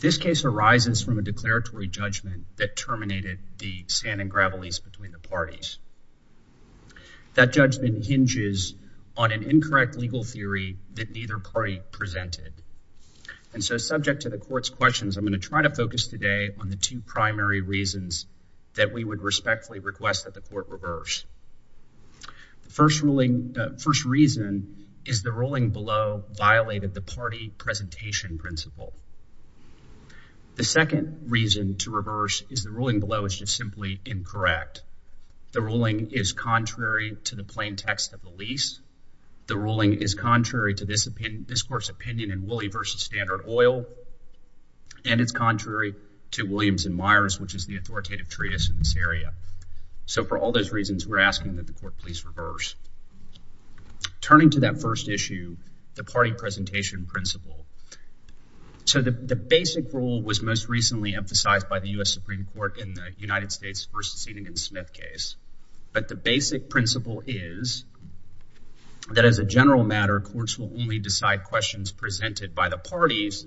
This case arises from a declaratory judgment that terminated the sand-and-gravel lease between the parties. That judgment hinges on an incorrect legal theory that neither party presented, and so I'm going to try to focus today on the two primary reasons that we would respectfully request that the court reverse. First reason is the ruling below violated the party presentation principle. The second reason to reverse is the ruling below is just simply incorrect. The ruling is contrary to the plain text of the lease. The ruling is contrary to this court's opinion in Woolley v. Standard Oil, and it's contrary to Williams v. Myers, which is the authoritative treatise in this area. So for all those reasons, we're asking that the court please reverse. Turning to that first issue, the party presentation principle, so the basic rule was most recently emphasized by the U.S. Supreme Court in the United States v. Senegan Smith case, but the as a general matter, courts will only decide questions presented by the parties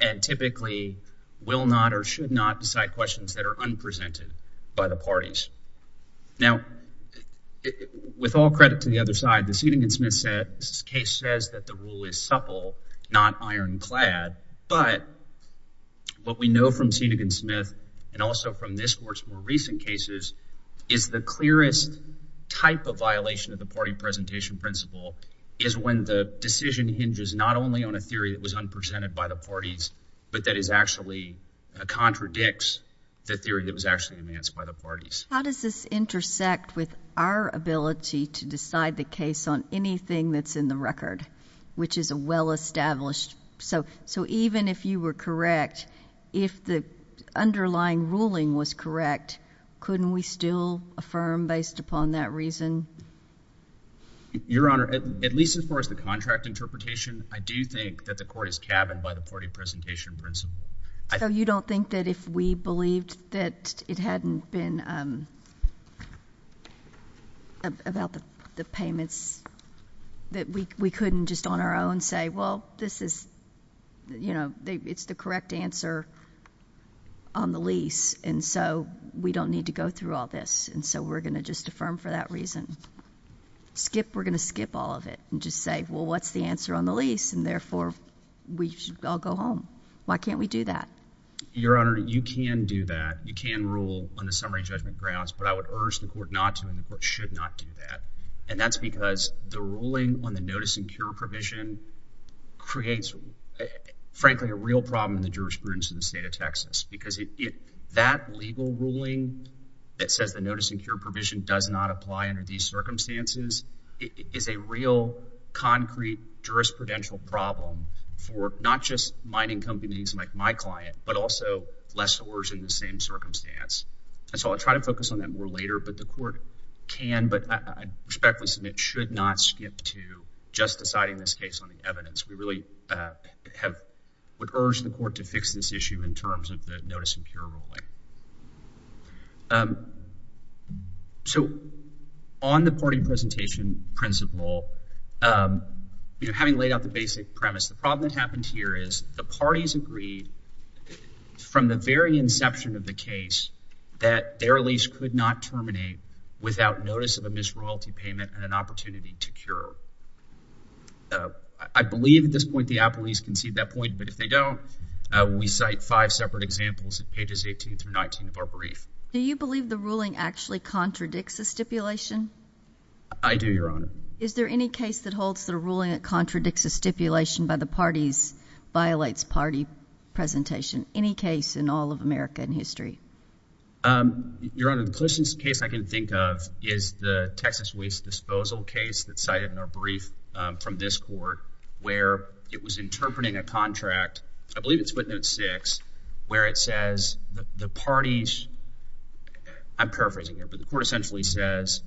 and typically will not or should not decide questions that are unpresented by the parties. Now, with all credit to the other side, the Senegan Smith case says that the rule is supple, not ironclad, but what we know from Senegan Smith and also from this court's more recent cases is the clearest type of violation of the party presentation principle is when the decision hinges not only on a theory that was unpresented by the parties, but that is actually a contradicts the theory that was actually enhanced by the parties. How does this intersect with our ability to decide the case on anything that's in the record, which is a well-established? So even if you were correct, if the underlying ruling was correct, couldn't we still affirm based upon that reason? Your Honor, at least as far as the contract interpretation, I do think that the court is cabined by the party presentation principle. You don't think that if we believed that it hadn't been about the payments that we couldn't just on our own say, well, this is, you know, it's the correct answer on the lease. And so we don't need to go through all this. And so we're going to just affirm for that reason, skip, we're going to skip all of it and just say, well, what's the answer on the lease? And therefore we should all go home. Why can't we do that? Your Honor, you can do that. You can rule on the summary judgment grounds, but I would urge the court not to and the court should not do that. And that's because the ruling on the notice and cure provision creates, frankly, a real problem in the jurisprudence of the state of Texas, because that legal ruling that says the notice and cure provision does not apply under these circumstances is a real concrete jurisprudential problem for not just mining companies like my client, but also lessors in the same circumstance. And so I'll try to focus on that more later, but the court can, but I respectfully submit should not skip to just deciding this case on the evidence. We really have, would urge the court to fix this issue in terms of the notice and cure ruling. So on the party presentation principle, you know, having laid out the basic premise, the parties agreed from the very inception of the case that their lease could not terminate without notice of a misroyalty payment and an opportunity to cure. I believe at this point the appellees concede that point, but if they don't, we cite five separate examples at pages 18 through 19 of our brief. Do you believe the ruling actually contradicts the stipulation? I do, Your Honor. Is there any case that holds that a ruling that contradicts a stipulation by the parties violates party presentation? Any case in all of American history? Your Honor, the closest case I can think of is the Texas Waste Disposal case that's cited in our brief from this court where it was interpreting a contract, I believe it's footnote six, where it says the parties, I'm paraphrasing here, but the court essentially says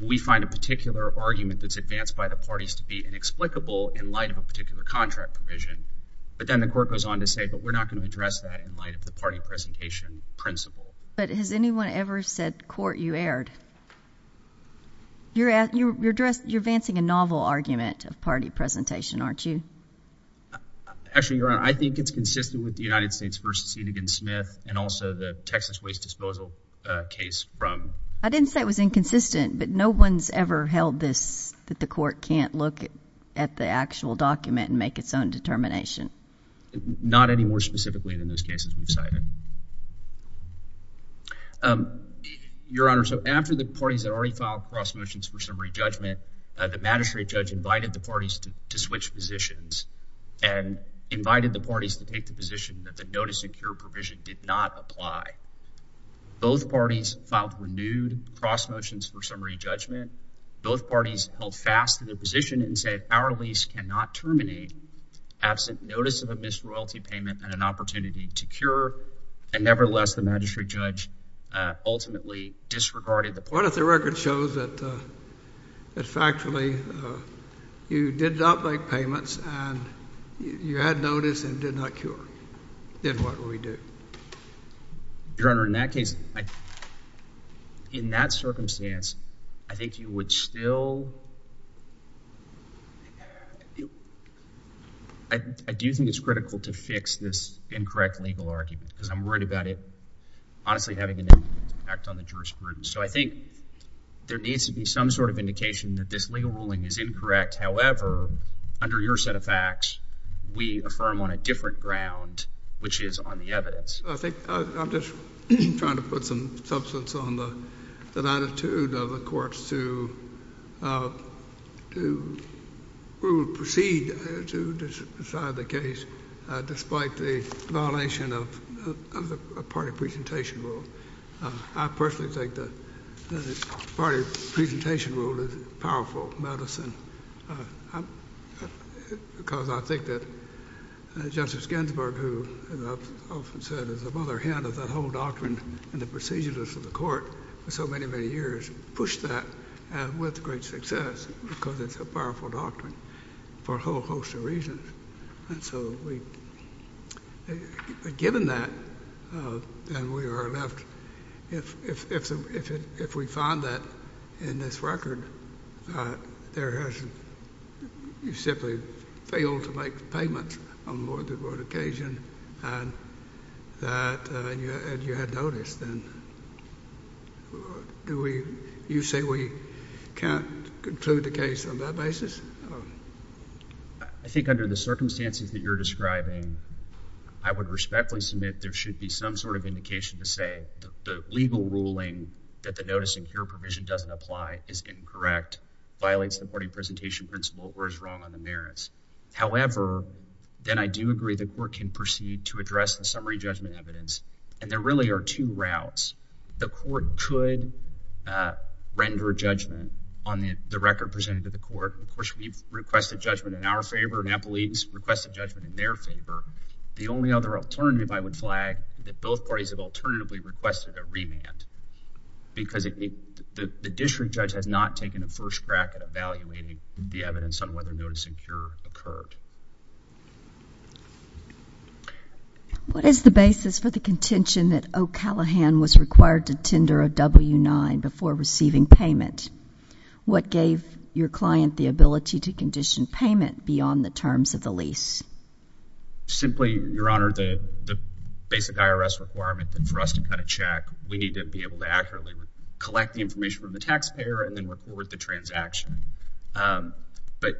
we find a particular argument that's advanced by the parties to be inexplicable in light of a particular contract provision, but then the court goes on to say, but we're not going to address that in light of the party presentation principle. But has anyone ever said, court, you erred? You're advancing a novel argument of party presentation, aren't you? Actually, Your Honor, I think it's consistent with the United States v. Enigin-Smith and also the Texas Waste Disposal case from- I didn't say it was inconsistent, but no one's ever held this, that the court can't look at the actual document and make its own determination. Not any more specifically than those cases we've cited. Your Honor, so after the parties had already filed cross motions for summary judgment, the magistrate judge invited the parties to switch positions and invited the parties to take the position that the notice and cure provision did not apply. Both parties filed renewed cross motions for summary judgment. Both parties held fast to their position and said, our lease cannot terminate absent notice of a missed royalty payment and an opportunity to cure. And nevertheless, the magistrate judge ultimately disregarded the point. What if the record shows that factually you did not make payments and you had notice and did not cure? Then what do we do? Your Honor, in that case, in that circumstance, I think you would still, I do think it's critical to fix this incorrect legal argument because I'm worried about it honestly having an impact on the jurisprudence. So I think there needs to be some sort of indication that this legal ruling is incorrect. However, under your set of facts, we affirm on a different ground, which is on the evidence. I think I'm just trying to put some substance on the attitude of the courts to, uh, to proceed to decide the case, uh, despite the violation of the party presentation rule. I personally think that the party presentation rule is powerful medicine, uh, because I think that Justice Ginsburg, who often said is the mother hen of that whole doctrine and the procedures of the court for so many, many years, pushed that with great success because it's a powerful doctrine for a whole host of reasons. And so we, uh, given that, uh, and we are left, if, if, if, if, if we find that in this record, uh, there has, you simply failed to make payments on more than one occasion and that, uh, and you, and you had noticed, then do we, you say we can't conclude the case on that basis? Um, I think under the circumstances that you're describing, I would respectfully submit there should be some sort of indication to say the legal ruling that the notice and cure provision doesn't apply is incorrect, violates the party presentation principle, or is wrong on the merits. However, then I do agree the court can proceed to address the summary judgment evidence. And there really are two routes. The court could, uh, render judgment on the record presented to the court. Of course, we've requested judgment in our favor and Applebees requested judgment in their favor. The only other alternative I would flag that both parties have alternatively requested a remand because the district judge has not taken a first crack at evaluating the evidence on whether notice and cure occurred. What is the basis for the contention that O'Callaghan was required to tender a W-9 before receiving payment? What gave your client the ability to condition payment beyond the terms of the lease? Simply, Your Honor, the, the basic IRS requirement that for us to cut a check, we need to be able to accurately collect the information from the taxpayer and then report the transaction. But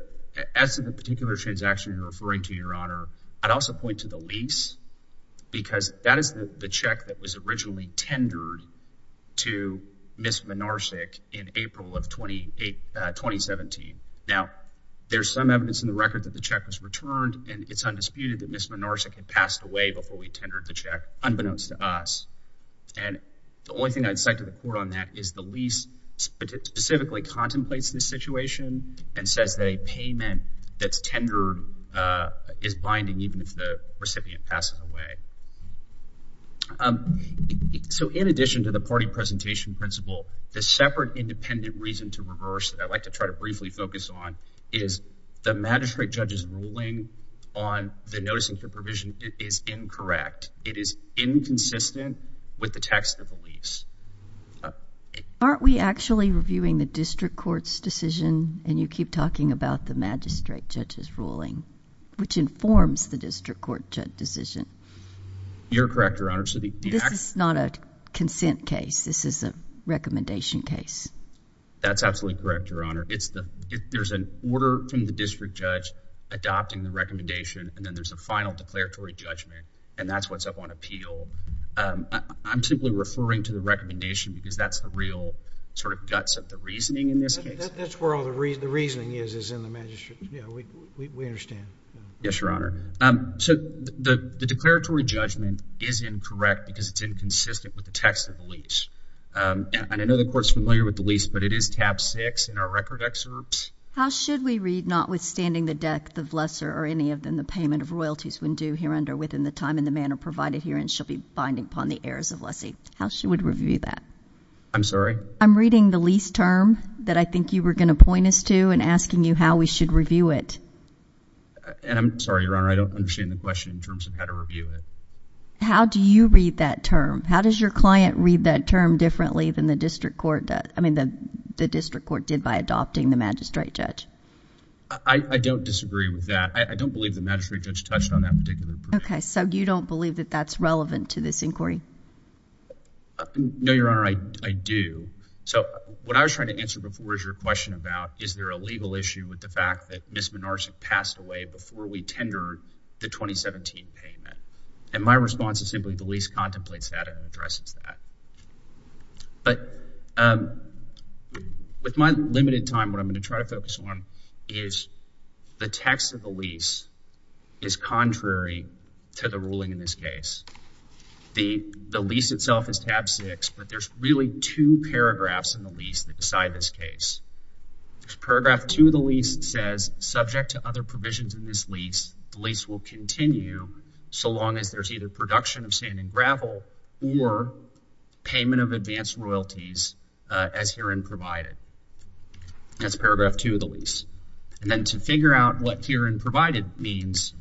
as to the particular transaction you're referring to, Your Honor, I'd also point to the lease because that is the check that was originally tendered to Ms. Minarsik in April of 2017. Now, there's some evidence in the record that the check was returned and it's undisputed that Ms. Minarsik had passed away before we tendered the check, unbeknownst to us. And the only thing I'd say to the court on that is the lease specifically contemplates this situation and says that a payment that's tendered is binding even if the recipient passes away. So, in addition to the party presentation principle, the separate independent reason to reverse that I'd like to try to briefly focus on is the magistrate judge's ruling on the notice and cure provision is incorrect. It is inconsistent with the text of the lease. Aren't we actually reviewing the district court's decision and you keep talking about the magistrate judge's ruling, which informs the district court judge decision? You're correct, Your Honor. This is not a consent case. This is a recommendation case. That's absolutely correct, Your Honor. There's an order from the district judge adopting the recommendation and then there's a final declaratory judgment and that's what's up on appeal. I'm simply referring to the recommendation because that's the real sort of guts of the reasoning in this case. That's where all the reasoning is, is in the magistrate. Yeah, we understand. Yes, Your Honor. So, the declaratory judgment is incorrect because it's inconsistent with the text of the lease. And I know the court's familiar with the lease, but it is tab six in our record excerpt. How should we read, notwithstanding the death of lesser or any of them, the payment of royalties when due here under within the time and the manner provided herein shall be binding upon the heirs of lessee? How she would review that? I'm sorry? I'm reading the lease term that I think you were going to point us to and asking you how we should review it. And I'm sorry, Your Honor. I don't understand the question in terms of how to review it. How do you read that term? How does your client read that term differently than the district court does? I mean, the district court did by adopting the magistrate judge. I don't disagree with that. I don't believe the magistrate judge touched on that particular point. Okay. So, you don't believe that that's relevant to this inquiry? No, Your Honor. I do. So, what I was trying to answer before is your question about is there a legal issue with the fact that Ms. Minarsik passed away before we tendered the 2017 payment. And my response is simply the lease contemplates that and addresses that. But with my limited time, what I'm going to try to focus on is the text of the lease is contrary to the ruling in this case. The lease itself is tab 6, but there's really two paragraphs in the lease that decide this case. There's paragraph 2 of the lease that says, subject to other provisions in this lease, the lease will continue so long as there's either production of sand and gravel or payment of advanced royalties as herein provided. That's paragraph 2 of the lease. And then to figure out what herein provided means,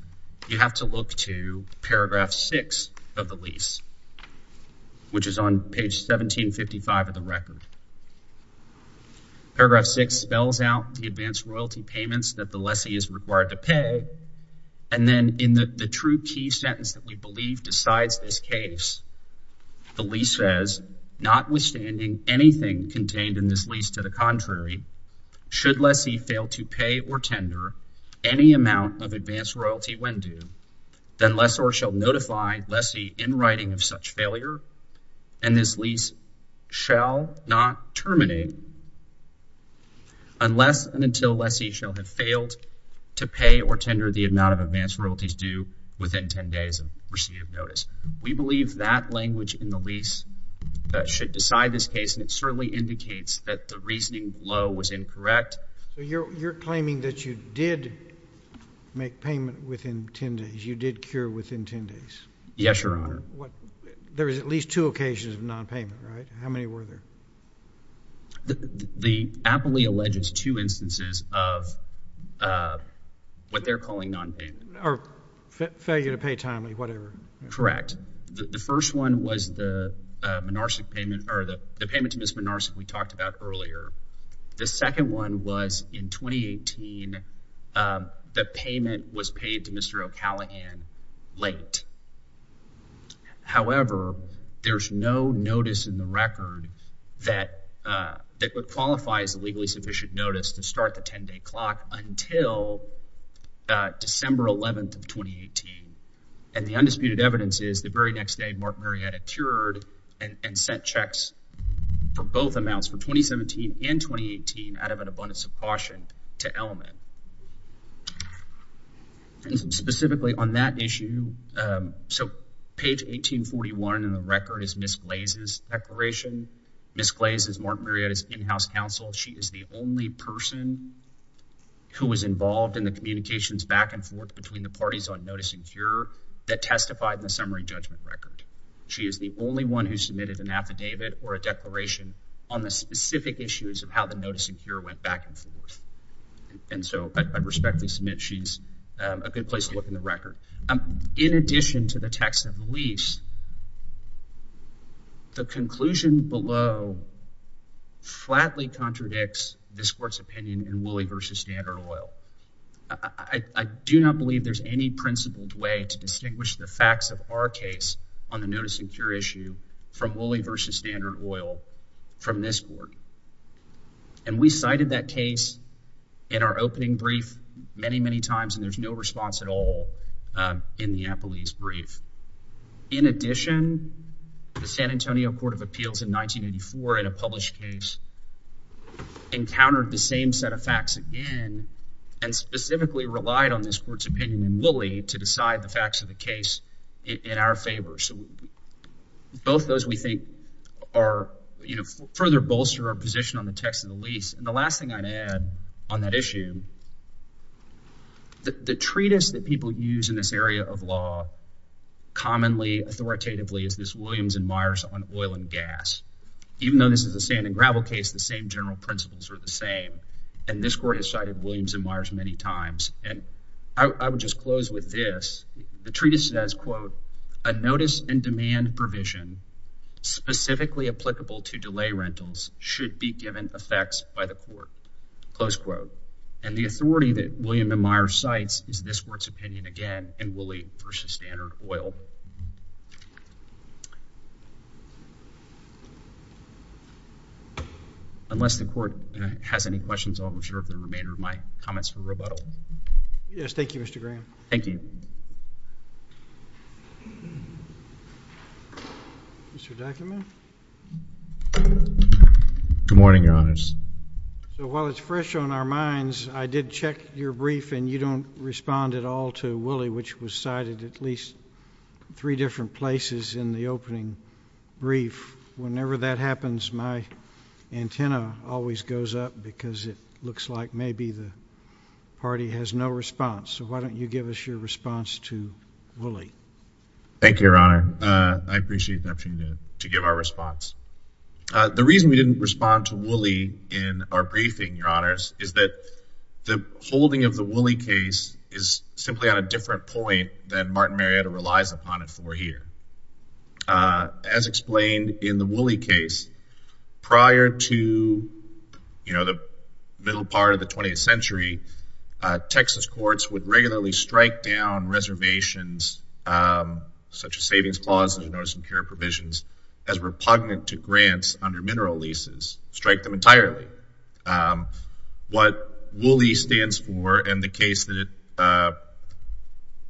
you have to look to paragraph 6 of the lease, which is on page 1755 of the record. Paragraph 6 spells out the advanced royalty payments that the lessee is required to pay. And then in the true key sentence that we believe decides this case, the lease says, notwithstanding anything contained in this lease to the contrary, should lessee fail to pay or tender any amount of advanced royalty when due, then lessor shall notify lessee in writing of such failure, and this lease shall not terminate unless and until lessee shall have failed to pay or tender the amount of advanced royalties due within 10 days of receipt of notice. We believe that language in the lease should decide this case, and it certainly indicates that the reasoning below was incorrect. You're claiming that you did make payment within 10 days. You did cure within 10 days. Yes, Your Honor. There is at least two occasions of nonpayment, right? How many were there? The aptly alleges two instances of what they're calling nonpayment. Or failure to pay timely, whatever. Correct. The first one was the payment to Ms. Minarsik we talked about earlier. The second one was in 2018. The payment was paid to Mr. O'Callaghan late. However, there's no notice in the record that would qualify as a legally sufficient notice to start the 10-day clock until December 11th of 2018, and the undisputed evidence is the very next day, Mark Marietta cured and sent checks for both amounts, for 2017 and 2018, out of an abundance of caution to Elman. And specifically on that issue, so page 1841 in the record is Ms. Glaze's declaration. Ms. Glaze is Mark Marietta's in-house counsel. She is the only person who was involved in the communications back and forth between the parties on notice and cure that testified in the summary judgment record. She is the only one who submitted an affidavit or a declaration on the specific issues of how the notice and cure went back and forth. And so I respectfully submit she's a good place to look in the record. In addition to the text of the lease, the conclusion below flatly contradicts this court's opinion in Wooley v. Standard Oil. I do not believe there's any principled way to distinguish the facts of our case on the notice and cure issue from Wooley v. Standard Oil from this court. And we cited that case in our opening brief many, many times, and there's no response at all in the appellee's brief. In addition, the San Antonio Court of Appeals in 1984 in a published case encountered the same set of facts again and specifically relied on this court's opinion in Wooley to decide the facts of the case in our favor. So both those we think are, you know, further bolster our position on the text of the lease. And the last thing I'd add on that issue, the treatise that people use in this area of law commonly authoritatively is this Williams and Myers on oil and gas. Even though this is a sand and gravel case, the same general principles are the same. And this court has cited Williams and Myers many times. And I would just close with this. The treatise says, quote, a notice and demand provision specifically applicable to delay rentals should be given effects by the court, close quote. And the authority that Williams and Myers cites is this court's opinion again in Wooley v. Standard Oil. Unless the court has any questions, I'll reserve the remainder of my comments for rebuttal. Yes. Thank you, Mr. Graham. Thank you. Mr. Deckerman. Good morning, Your Honors. So while it's fresh on our minds, I did check your brief and you don't respond at all to Wooley, which was cited at least three different places in the opening brief. Whenever that happens, my antenna always goes up because it looks like maybe the party has no response. So why don't you give us your response to Wooley? Thank you, Your Honor. I appreciate the opportunity to give our response. The reason we didn't respond to Wooley in our briefing, Your Honors, is that the holding of the Wooley case is simply on a different point than Martin Marietta relies upon it for here. As explained in the Wooley case, prior to, you know, the middle part of the 20th century, Texas courts would regularly strike down reservations, such as savings clauses and notice of care provisions, as repugnant to grants under mineral leases. Strike them entirely. What Wooley stands for and the case that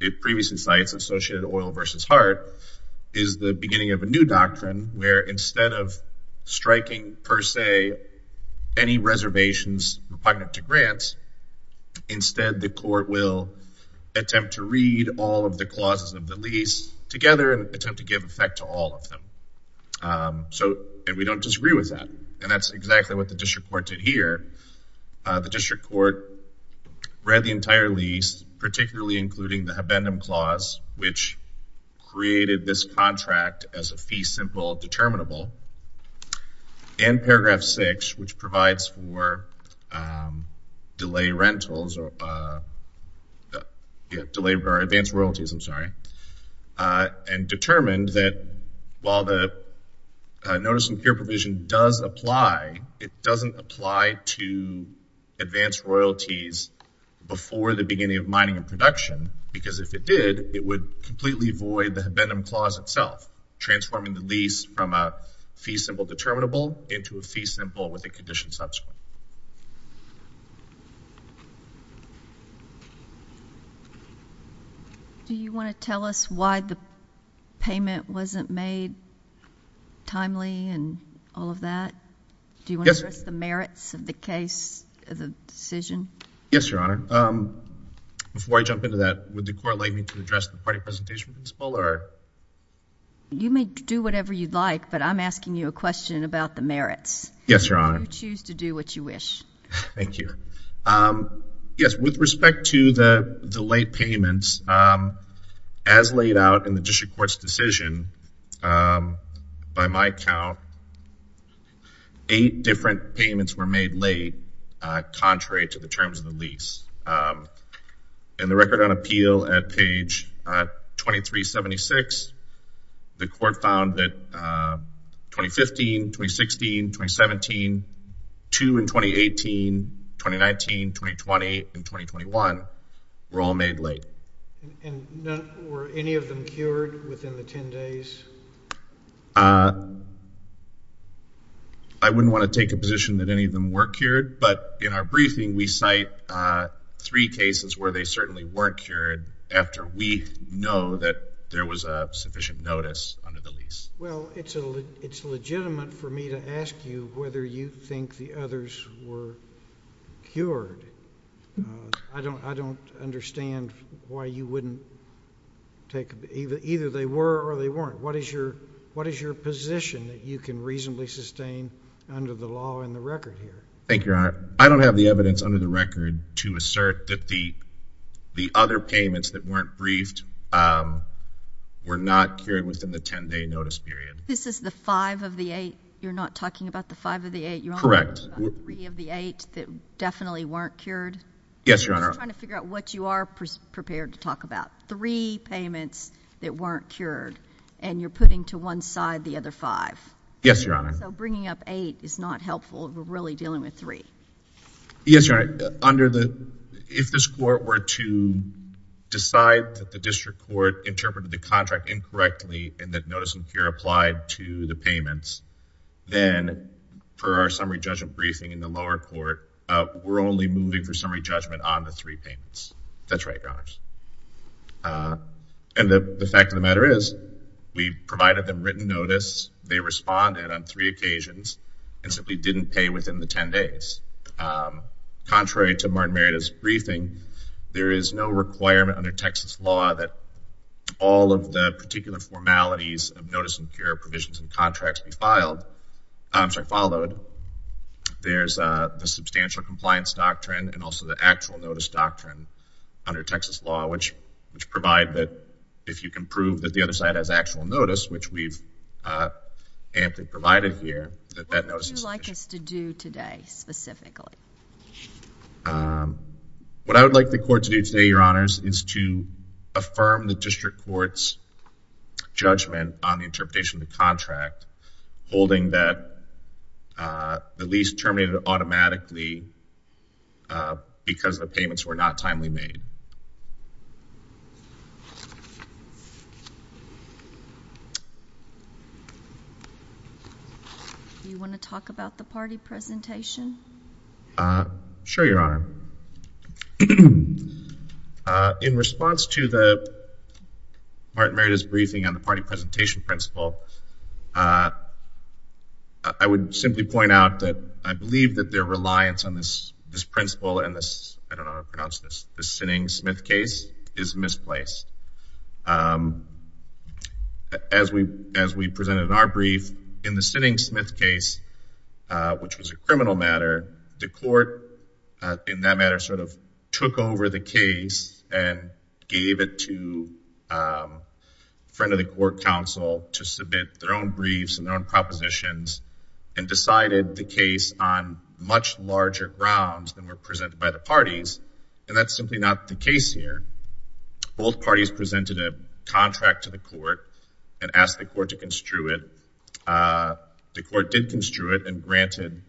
it previously cites, Associated Oil v. Hart, is the beginning of a new doctrine where instead of striking per se any reservations repugnant to grants, instead the court will attempt to read all of the clauses of the lease together and attempt to give effect to all of them. And we don't disagree with that. And that's exactly what the district court did here. The district court read the entire lease, particularly including the habendum clause, which created this contract as a fee simple determinable, and paragraph 6, which provides for delay rentals or advance royalties, I'm sorry, and determined that while the notice of care provision does apply, it doesn't apply to advance royalties before the beginning of mining and production, because if it did, it would completely void the habendum clause itself, transforming the lease from a fee simple determinable into a fee simple with a condition subsequent. Do you want to tell us why the payment wasn't made timely and all of that? Yes. Do you want to address the merits of the case, of the decision? Yes, Your Honor. Before I jump into that, would the court like me to address the party presentation principle or? You may do whatever you'd like, but I'm asking you a question about the merits. Yes, Your Honor. You choose to do what you wish. Thank you. Yes, with respect to the late payments, as laid out in the district court's decision, by my count, eight different payments were made late, contrary to the terms of the lease. In the record on appeal at page 2376, the court found that 2015, 2016, 2017, 2 in 2018, 2019, 2020, and 2021 were all made late. And were any of them cured within the 10 days? I wouldn't want to take a position that any of them were cured, but in our briefing, we cite three cases where they certainly weren't cured after we know that there was a sufficient notice under the lease. Well, it's legitimate for me to ask you whether you think the others were cured. I don't understand why you wouldn't take – either they were or they weren't. What is your position that you can reasonably sustain under the law and the record here? Thank you, Your Honor. I don't have the evidence under the record to assert that the other payments that weren't briefed were not cured within the 10-day notice period. This is the five of the eight? You're not talking about the five of the eight? Correct. You're talking about three of the eight that definitely weren't cured? Yes, Your Honor. I'm just trying to figure out what you are prepared to talk about. Three payments that weren't cured, and you're putting to one side the other five. Yes, Your Honor. So bringing up eight is not helpful if we're really dealing with three? Yes, Your Honor. Under the – if this court were to decide that the district court interpreted the contract incorrectly and that notice of cure applied to the payments, then for our summary judgment briefing in the lower court, we're only moving for summary judgment on the three payments. That's right, Your Honors. And the fact of the matter is we provided them written notice. They responded on three occasions and simply didn't pay within the 10 days. Contrary to Martin Meredith's briefing, there is no requirement under Texas law that all of the particular formalities of notice of cure provisions and contracts be filed – I'm sorry, followed. There's the substantial compliance doctrine and also the actual notice doctrine under Texas law, which provide that if you can prove that the other side has actual notice, which we've amply provided here, that that notice is sufficient. What would you like us to do today specifically? What I would like the court to do today, Your Honors, is to affirm the district court's judgment on the interpretation of the contract, holding that the lease terminated automatically because the payments were not timely made. Do you want to talk about the party presentation? Sure, Your Honor. In response to Martin Meredith's briefing on the party presentation principle, I would simply point out that I believe that their reliance on this principle and this, I don't know how to pronounce this, the Sinning-Smith case is misplaced. As we presented in our brief, in the Sinning-Smith case, which was a criminal matter, the court in that matter sort of took over the case and gave it to a friend of the court counsel to submit their own briefs and their own propositions and decided the case on much larger grounds than were presented by the parties, and that's simply not the case here. Both parties presented a contract to the court and asked the court to construe it. The court did construe it and granted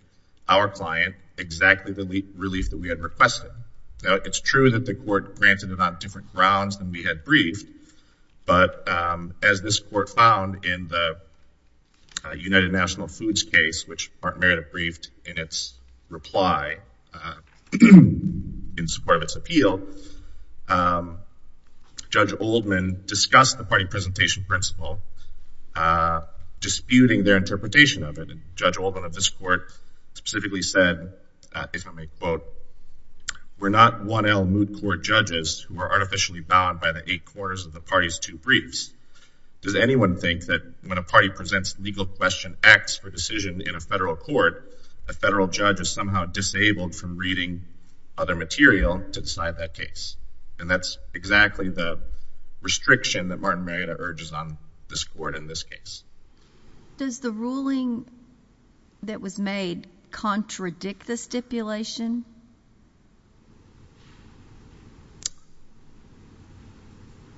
our client exactly the relief that we had requested. Now, it's true that the court granted it on different grounds than we had briefed, but as this court found in the United National Foods case, which Martin Meredith briefed in its reply in support of its appeal, Judge Oldman discussed the party presentation principle, disputing their interpretation of it. Judge Oldman of this court specifically said, if I may quote, we're not 1L moot court judges who are artificially bound by the eight quarters of the party's two briefs. Does anyone think that when a party presents legal question X for decision in a federal court, a federal judge is somehow disabled from reading other material to decide that case? And that's exactly the restriction that Martin Meredith urges on this court in this case. Does the ruling that was made contradict the stipulation?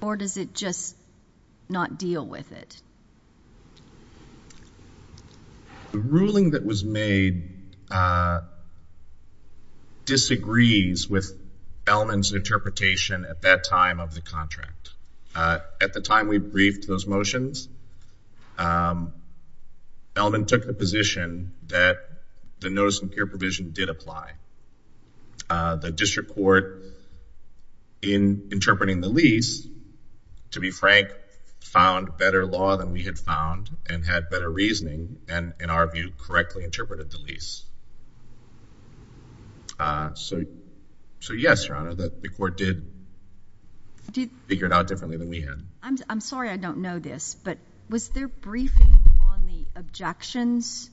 Or does it just not deal with it? The ruling that was made disagrees with Elman's interpretation at that time of the contract. At the time we briefed those motions, Elman took the position that the notice of peer provision did apply. The district court, in interpreting the lease, to be frank, found better law than we had found and had better reasoning and, in our view, correctly interpreted the lease. So, yes, Your Honor, the court did figure it out differently than we had. I'm sorry I don't know this, but was there briefing on the objections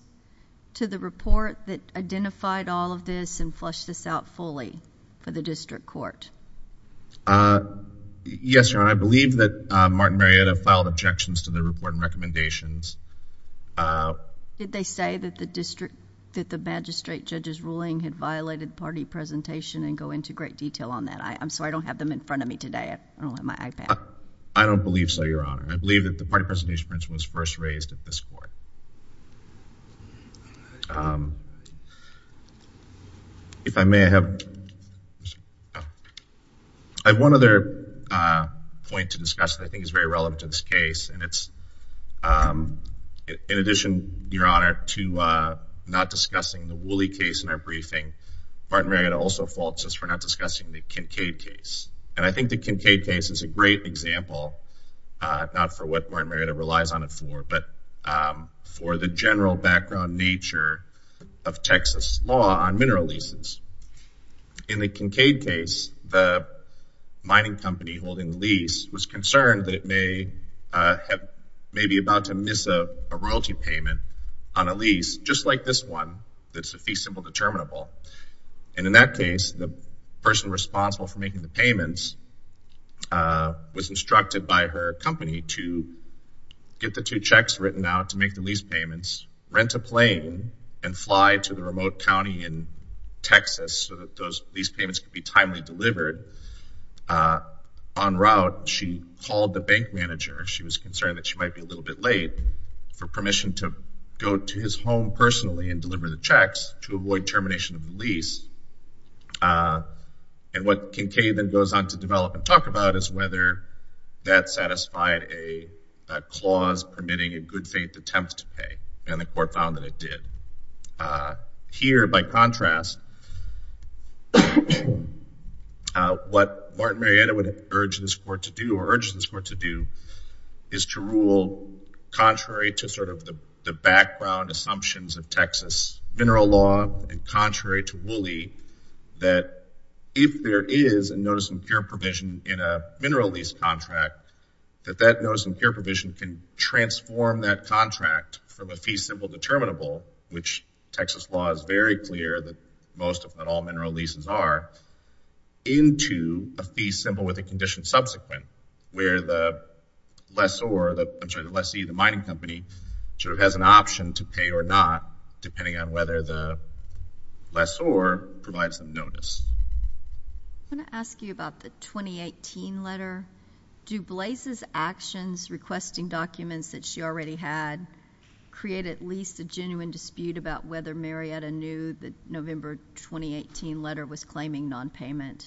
to the report that identified all of this and flushed this out fully for the district court? Yes, Your Honor. I believe that Martin Meredith filed objections to the report and recommendations. Did they say that the magistrate judge's ruling had violated party presentation and go into great detail on that? I'm sorry, I don't have them in front of me today. I don't have my iPad. I don't believe so, Your Honor. I believe that the party presentation principle was first raised at this court. I have one other point to discuss that I think is very relevant to this case. And it's, in addition, Your Honor, to not discussing the Wooley case in our briefing, Martin Meredith also faults us for not discussing the Kincaid case. And I think the Kincaid case is a great example, not for what Martin Meredith relies on it for, but for the general background nature of Texas law on mineral leases. In the Kincaid case, the mining company holding the lease was concerned that it may be about to miss a royalty payment on a lease, just like this one, that's a fee symbol determinable. And in that case, the person responsible for making the payments was instructed by her company to get the two checks written out to make the lease payments, rent a plane, and fly to the remote county in Texas so that those lease payments could be timely delivered. En route, she called the bank manager. She was concerned that she might be a little bit late for permission to go to his home personally and deliver the checks to avoid termination of the lease. And what Kincaid then goes on to develop and talk about is whether that satisfied a clause permitting a good faith attempt to pay. And the court found that it did. Here, by contrast, what Martin Marietta would urge this court to do or urges this court to do is to rule contrary to sort of the background assumptions of Texas mineral law and contrary to Woolley that if there is a notice of impure provision in a mineral lease contract, that that notice of impure provision can transform that contract from a fee symbol determinable, which Texas law is very clear that most, if not all, mineral leases are, into a fee symbol with a condition subsequent where the lessor, I'm sorry, the lessee, the mining company, sort of has an option to pay or not depending on whether the lessor provides the notice. I want to ask you about the 2018 letter. Do Blaise's actions requesting documents that she already had create at least a genuine dispute about whether Marietta knew the November 2018 letter was claiming nonpayment?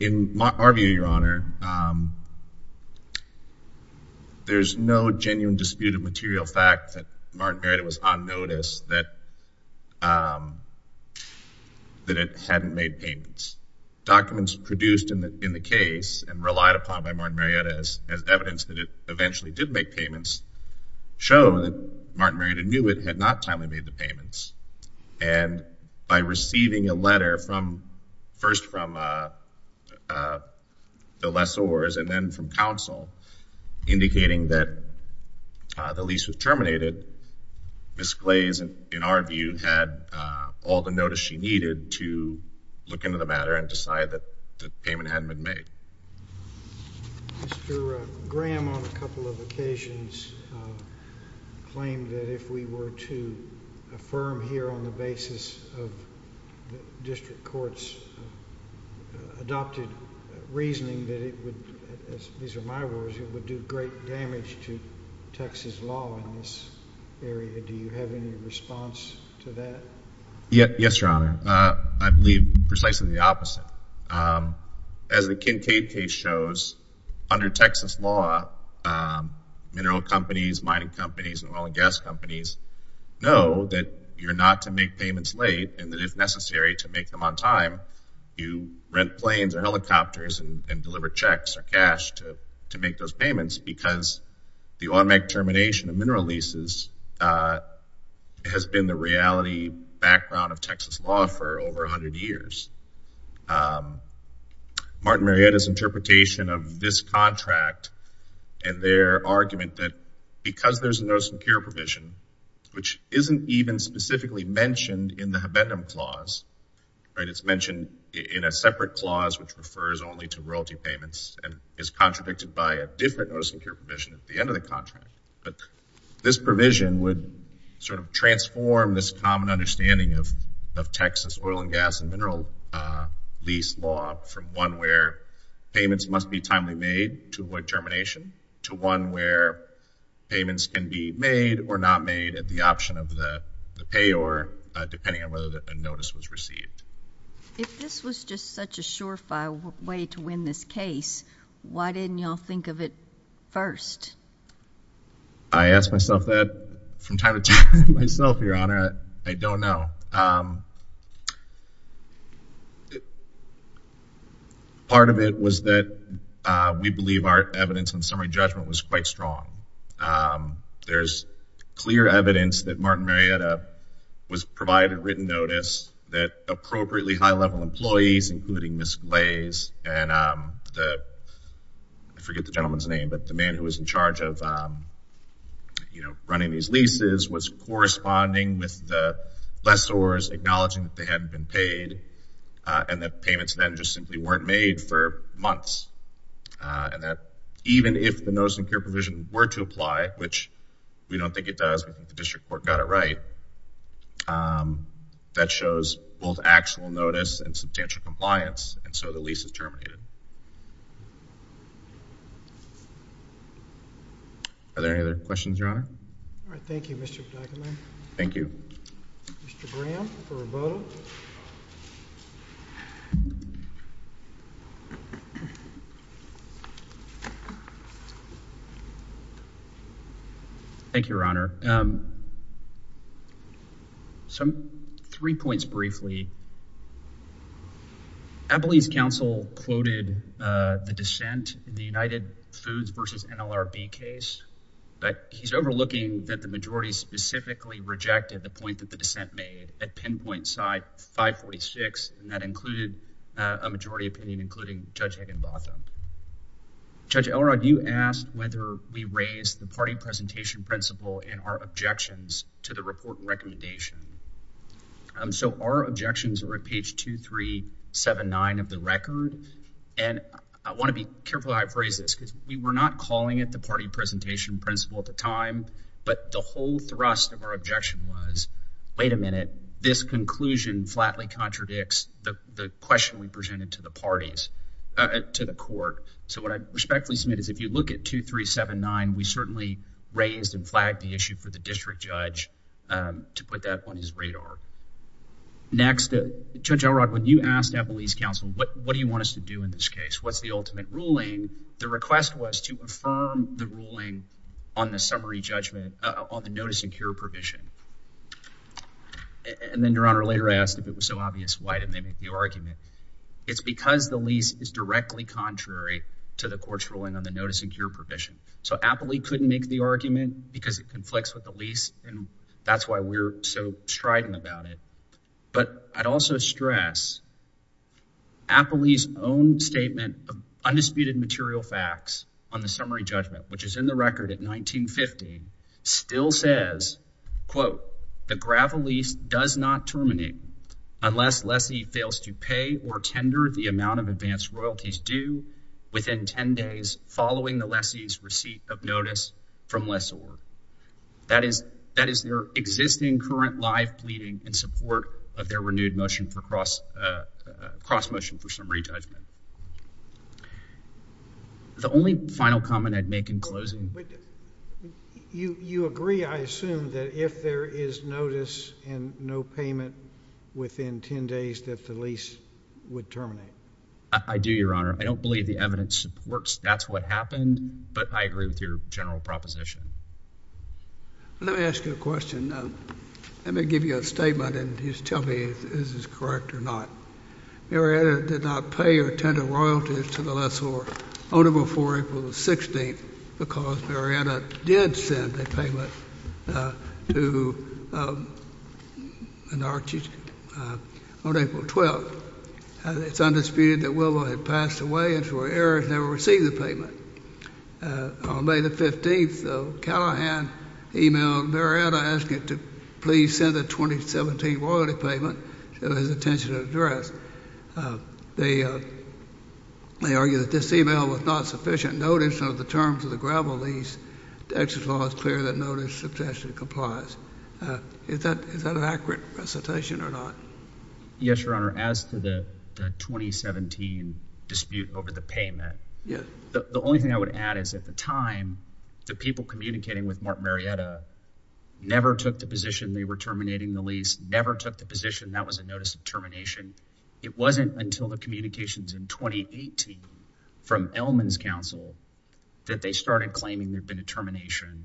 In our view, Your Honor, there's no genuine dispute of material fact that Martin Marietta was on notice that it hadn't made payments. Documents produced in the case and relied upon by Martin Marietta as evidence that it eventually did make payments show that Martin Marietta knew it had not timely made the payments. And by receiving a letter first from the lessors and then from counsel indicating that the lease was terminated, Ms. Blaise, in our view, had all the notice she needed to look into the matter and decide that the payment hadn't been made. Mr. Graham, on a couple of occasions, claimed that if we were to affirm here on the basis of district courts' adopted reasoning that it would, as these are my words, it would do great damage to Texas law in this area. Do you have any response to that? Yes, Your Honor. I believe precisely the opposite. As the Kincaid case shows, under Texas law, mineral companies, mining companies, and oil and gas companies know that you're not to make payments late and that if necessary to make them on time, you rent planes or helicopters and deliver checks or cash to make those payments because the automatic termination of mineral leases has been the reality background of Texas law for over 100 years. Martin Marietta's interpretation of this contract and their argument that because there's a notice and cure provision, which isn't even specifically mentioned in the habendum clause, right, it's mentioned in a separate clause which refers only to royalty payments and is contradicted by a different notice and cure provision at the end of the contract, this provision would sort of transform this common understanding of Texas oil and gas and mineral lease law from one where payments must be timely made to avoid termination to one where payments can be made or not made at the option of the payor, depending on whether a notice was received. If this was just such a surefire way to win this case, why didn't you all think of it first? I asked myself that from time to time myself, Your Honor. I don't know. Part of it was that we believe our evidence and summary judgment was quite strong. There's clear evidence that Martin Marietta was provided written notice that appropriately high-level employees, including Ms. Glaze and I forget the gentleman's name, but the man who was in charge of, you know, running these leases, was corresponding with the lessors, acknowledging that they hadn't been paid and that payments then just simply weren't made for months and that even if the notice and care provision were to apply, which we don't think it does, I think the district court got it right, that shows both actual notice and substantial compliance, and so the lease is terminated. Are there any other questions, Your Honor? All right. Thank you, Mr. Begeleman. Thank you. Mr. Graham for Roboto. Thank you, Your Honor. Three points briefly. Abilene's counsel quoted the dissent in the United Foods v. NLRB case, but he's overlooking that the majority specifically rejected the point that the dissent made at pinpoint side 546, and that included a majority opinion, including Judge Higginbotham. Judge Elrod, you asked whether we raise the party presentation principle in our objections to the report recommendation. So our objections are at page 2379 of the record, and I want to be careful how I phrase this because we were not calling it the party presentation principle at the time, but the whole thrust of our objection was, wait a minute, this conclusion flatly contradicts the question we presented to the parties, to the court. So what I respectfully submit is if you look at 2379, we certainly raised and flagged the issue for the district judge to put that on his radar. Next, Judge Elrod, when you asked Abilene's counsel, what do you want us to do in this case, what's the ultimate ruling, the request was to affirm the ruling on the summary judgment on the notice and cure provision. And then, Your Honor, later I asked if it was so obvious, why did they make the argument? It's because the lease is directly contrary to the court's ruling on the notice and cure provision. So Abilene couldn't make the argument because it conflicts with the lease, and that's why we're so strident about it. But I'd also stress Abilene's own statement of undisputed material facts on the summary judgment, which is in the record at 1950, still says, quote, the gravel lease does not terminate unless lessee fails to pay or tender the amount of advanced royalties due within 10 days following the lessee's receipt of notice from lessor. That is their existing current live pleading in support of their renewed motion for cross motion for summary judgment. The only final comment I'd make in closing. You agree, I assume, that if there is notice and no payment within 10 days that the lease would terminate? I do, Your Honor. I don't believe the evidence supports that's what happened, but I agree with your general proposition. Let me ask you a question. Let me give you a statement and just tell me if this is correct or not. Marietta did not pay or tender royalties to the lessor on April 4th or April 16th because Marietta did send a payment to an Archie on April 12th. It's undisputed that Willow had passed away and for errors never received the payment. On May the 15th, Callahan emailed Marietta asking to please send the 2017 royalty payment to his attention and address. They argue that this email was not sufficient notice under the terms of the gravel lease. The exit law is clear that notice substantially complies. Is that an accurate recitation or not? Yes, Your Honor. As to the 2017 dispute over the payment, the only thing I would add is at the time, the people communicating with Mark Marietta never took the position they were terminating the lease, never took the position that was a notice of termination. It wasn't until the communications in 2018 from Ellman's counsel that they started claiming there had been a termination.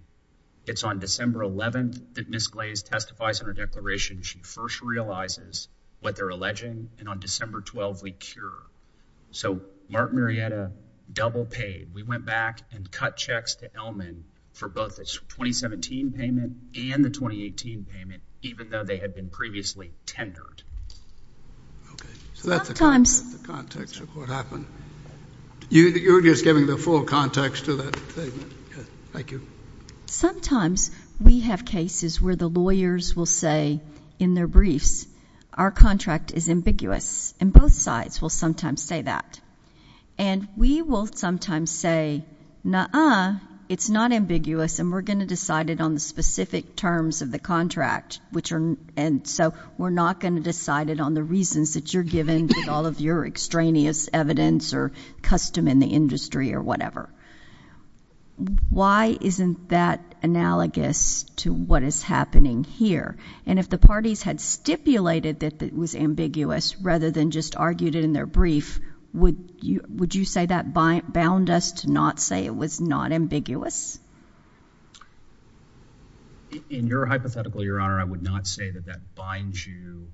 It's on December 11th that Ms. Glaze testifies in her declaration. She first realizes what they're alleging, and on December 12th, we cure. So Mark Marietta double-paid. We went back and cut checks to Ellman for both the 2017 payment and the 2018 payment, even though they had been previously tendered. So that's the context of what happened. You're just giving the full context to that statement. Thank you. Sometimes we have cases where the lawyers will say in their briefs, our contract is ambiguous, and both sides will sometimes say that. And we will sometimes say, nuh-uh, it's not ambiguous, and we're going to decide it on the specific terms of the contract, and so we're not going to decide it on the reasons that you're giving with all of your extraneous evidence or custom in the industry or whatever. Why isn't that analogous to what is happening here? And if the parties had stipulated that it was ambiguous rather than just argued it in their brief, would you say that bound us to not say it was not ambiguous? In your hypothetical, Your Honor, I would not say that that binds you.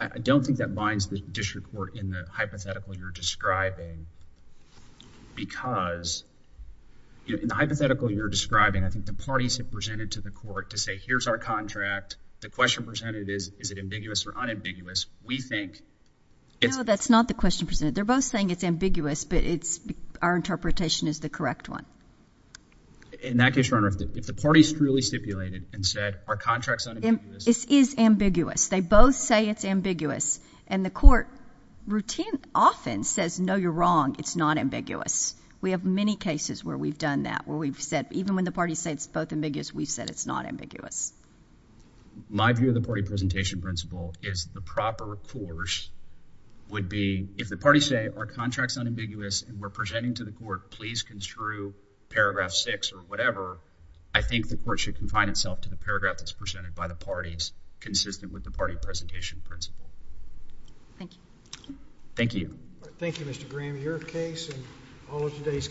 I don't think that binds the district court in the hypothetical you're describing because in the hypothetical you're describing, I think the parties have presented to the court to say, here's our contract. The question presented is, is it ambiguous or unambiguous? We think it's— No, that's not the question presented. They're both saying it's ambiguous, but our interpretation is the correct one. In that case, Your Honor, if the parties truly stipulated and said our contract's unambiguous— It is ambiguous. They both say it's ambiguous, and the court routine often says, no, you're wrong. It's not ambiguous. We have many cases where we've done that, where we've said, even when the parties say it's both ambiguous, we've said it's not ambiguous. My view of the party presentation principle is the proper course would be if the parties say our contract's unambiguous and we're presenting to the court, please construe paragraph 6 or whatever, I think the court should confine itself to the paragraph that's presented by the parties consistent with the party presentation principle. Thank you. Thank you. Thank you, Mr. Graham. Your case and all of today's cases,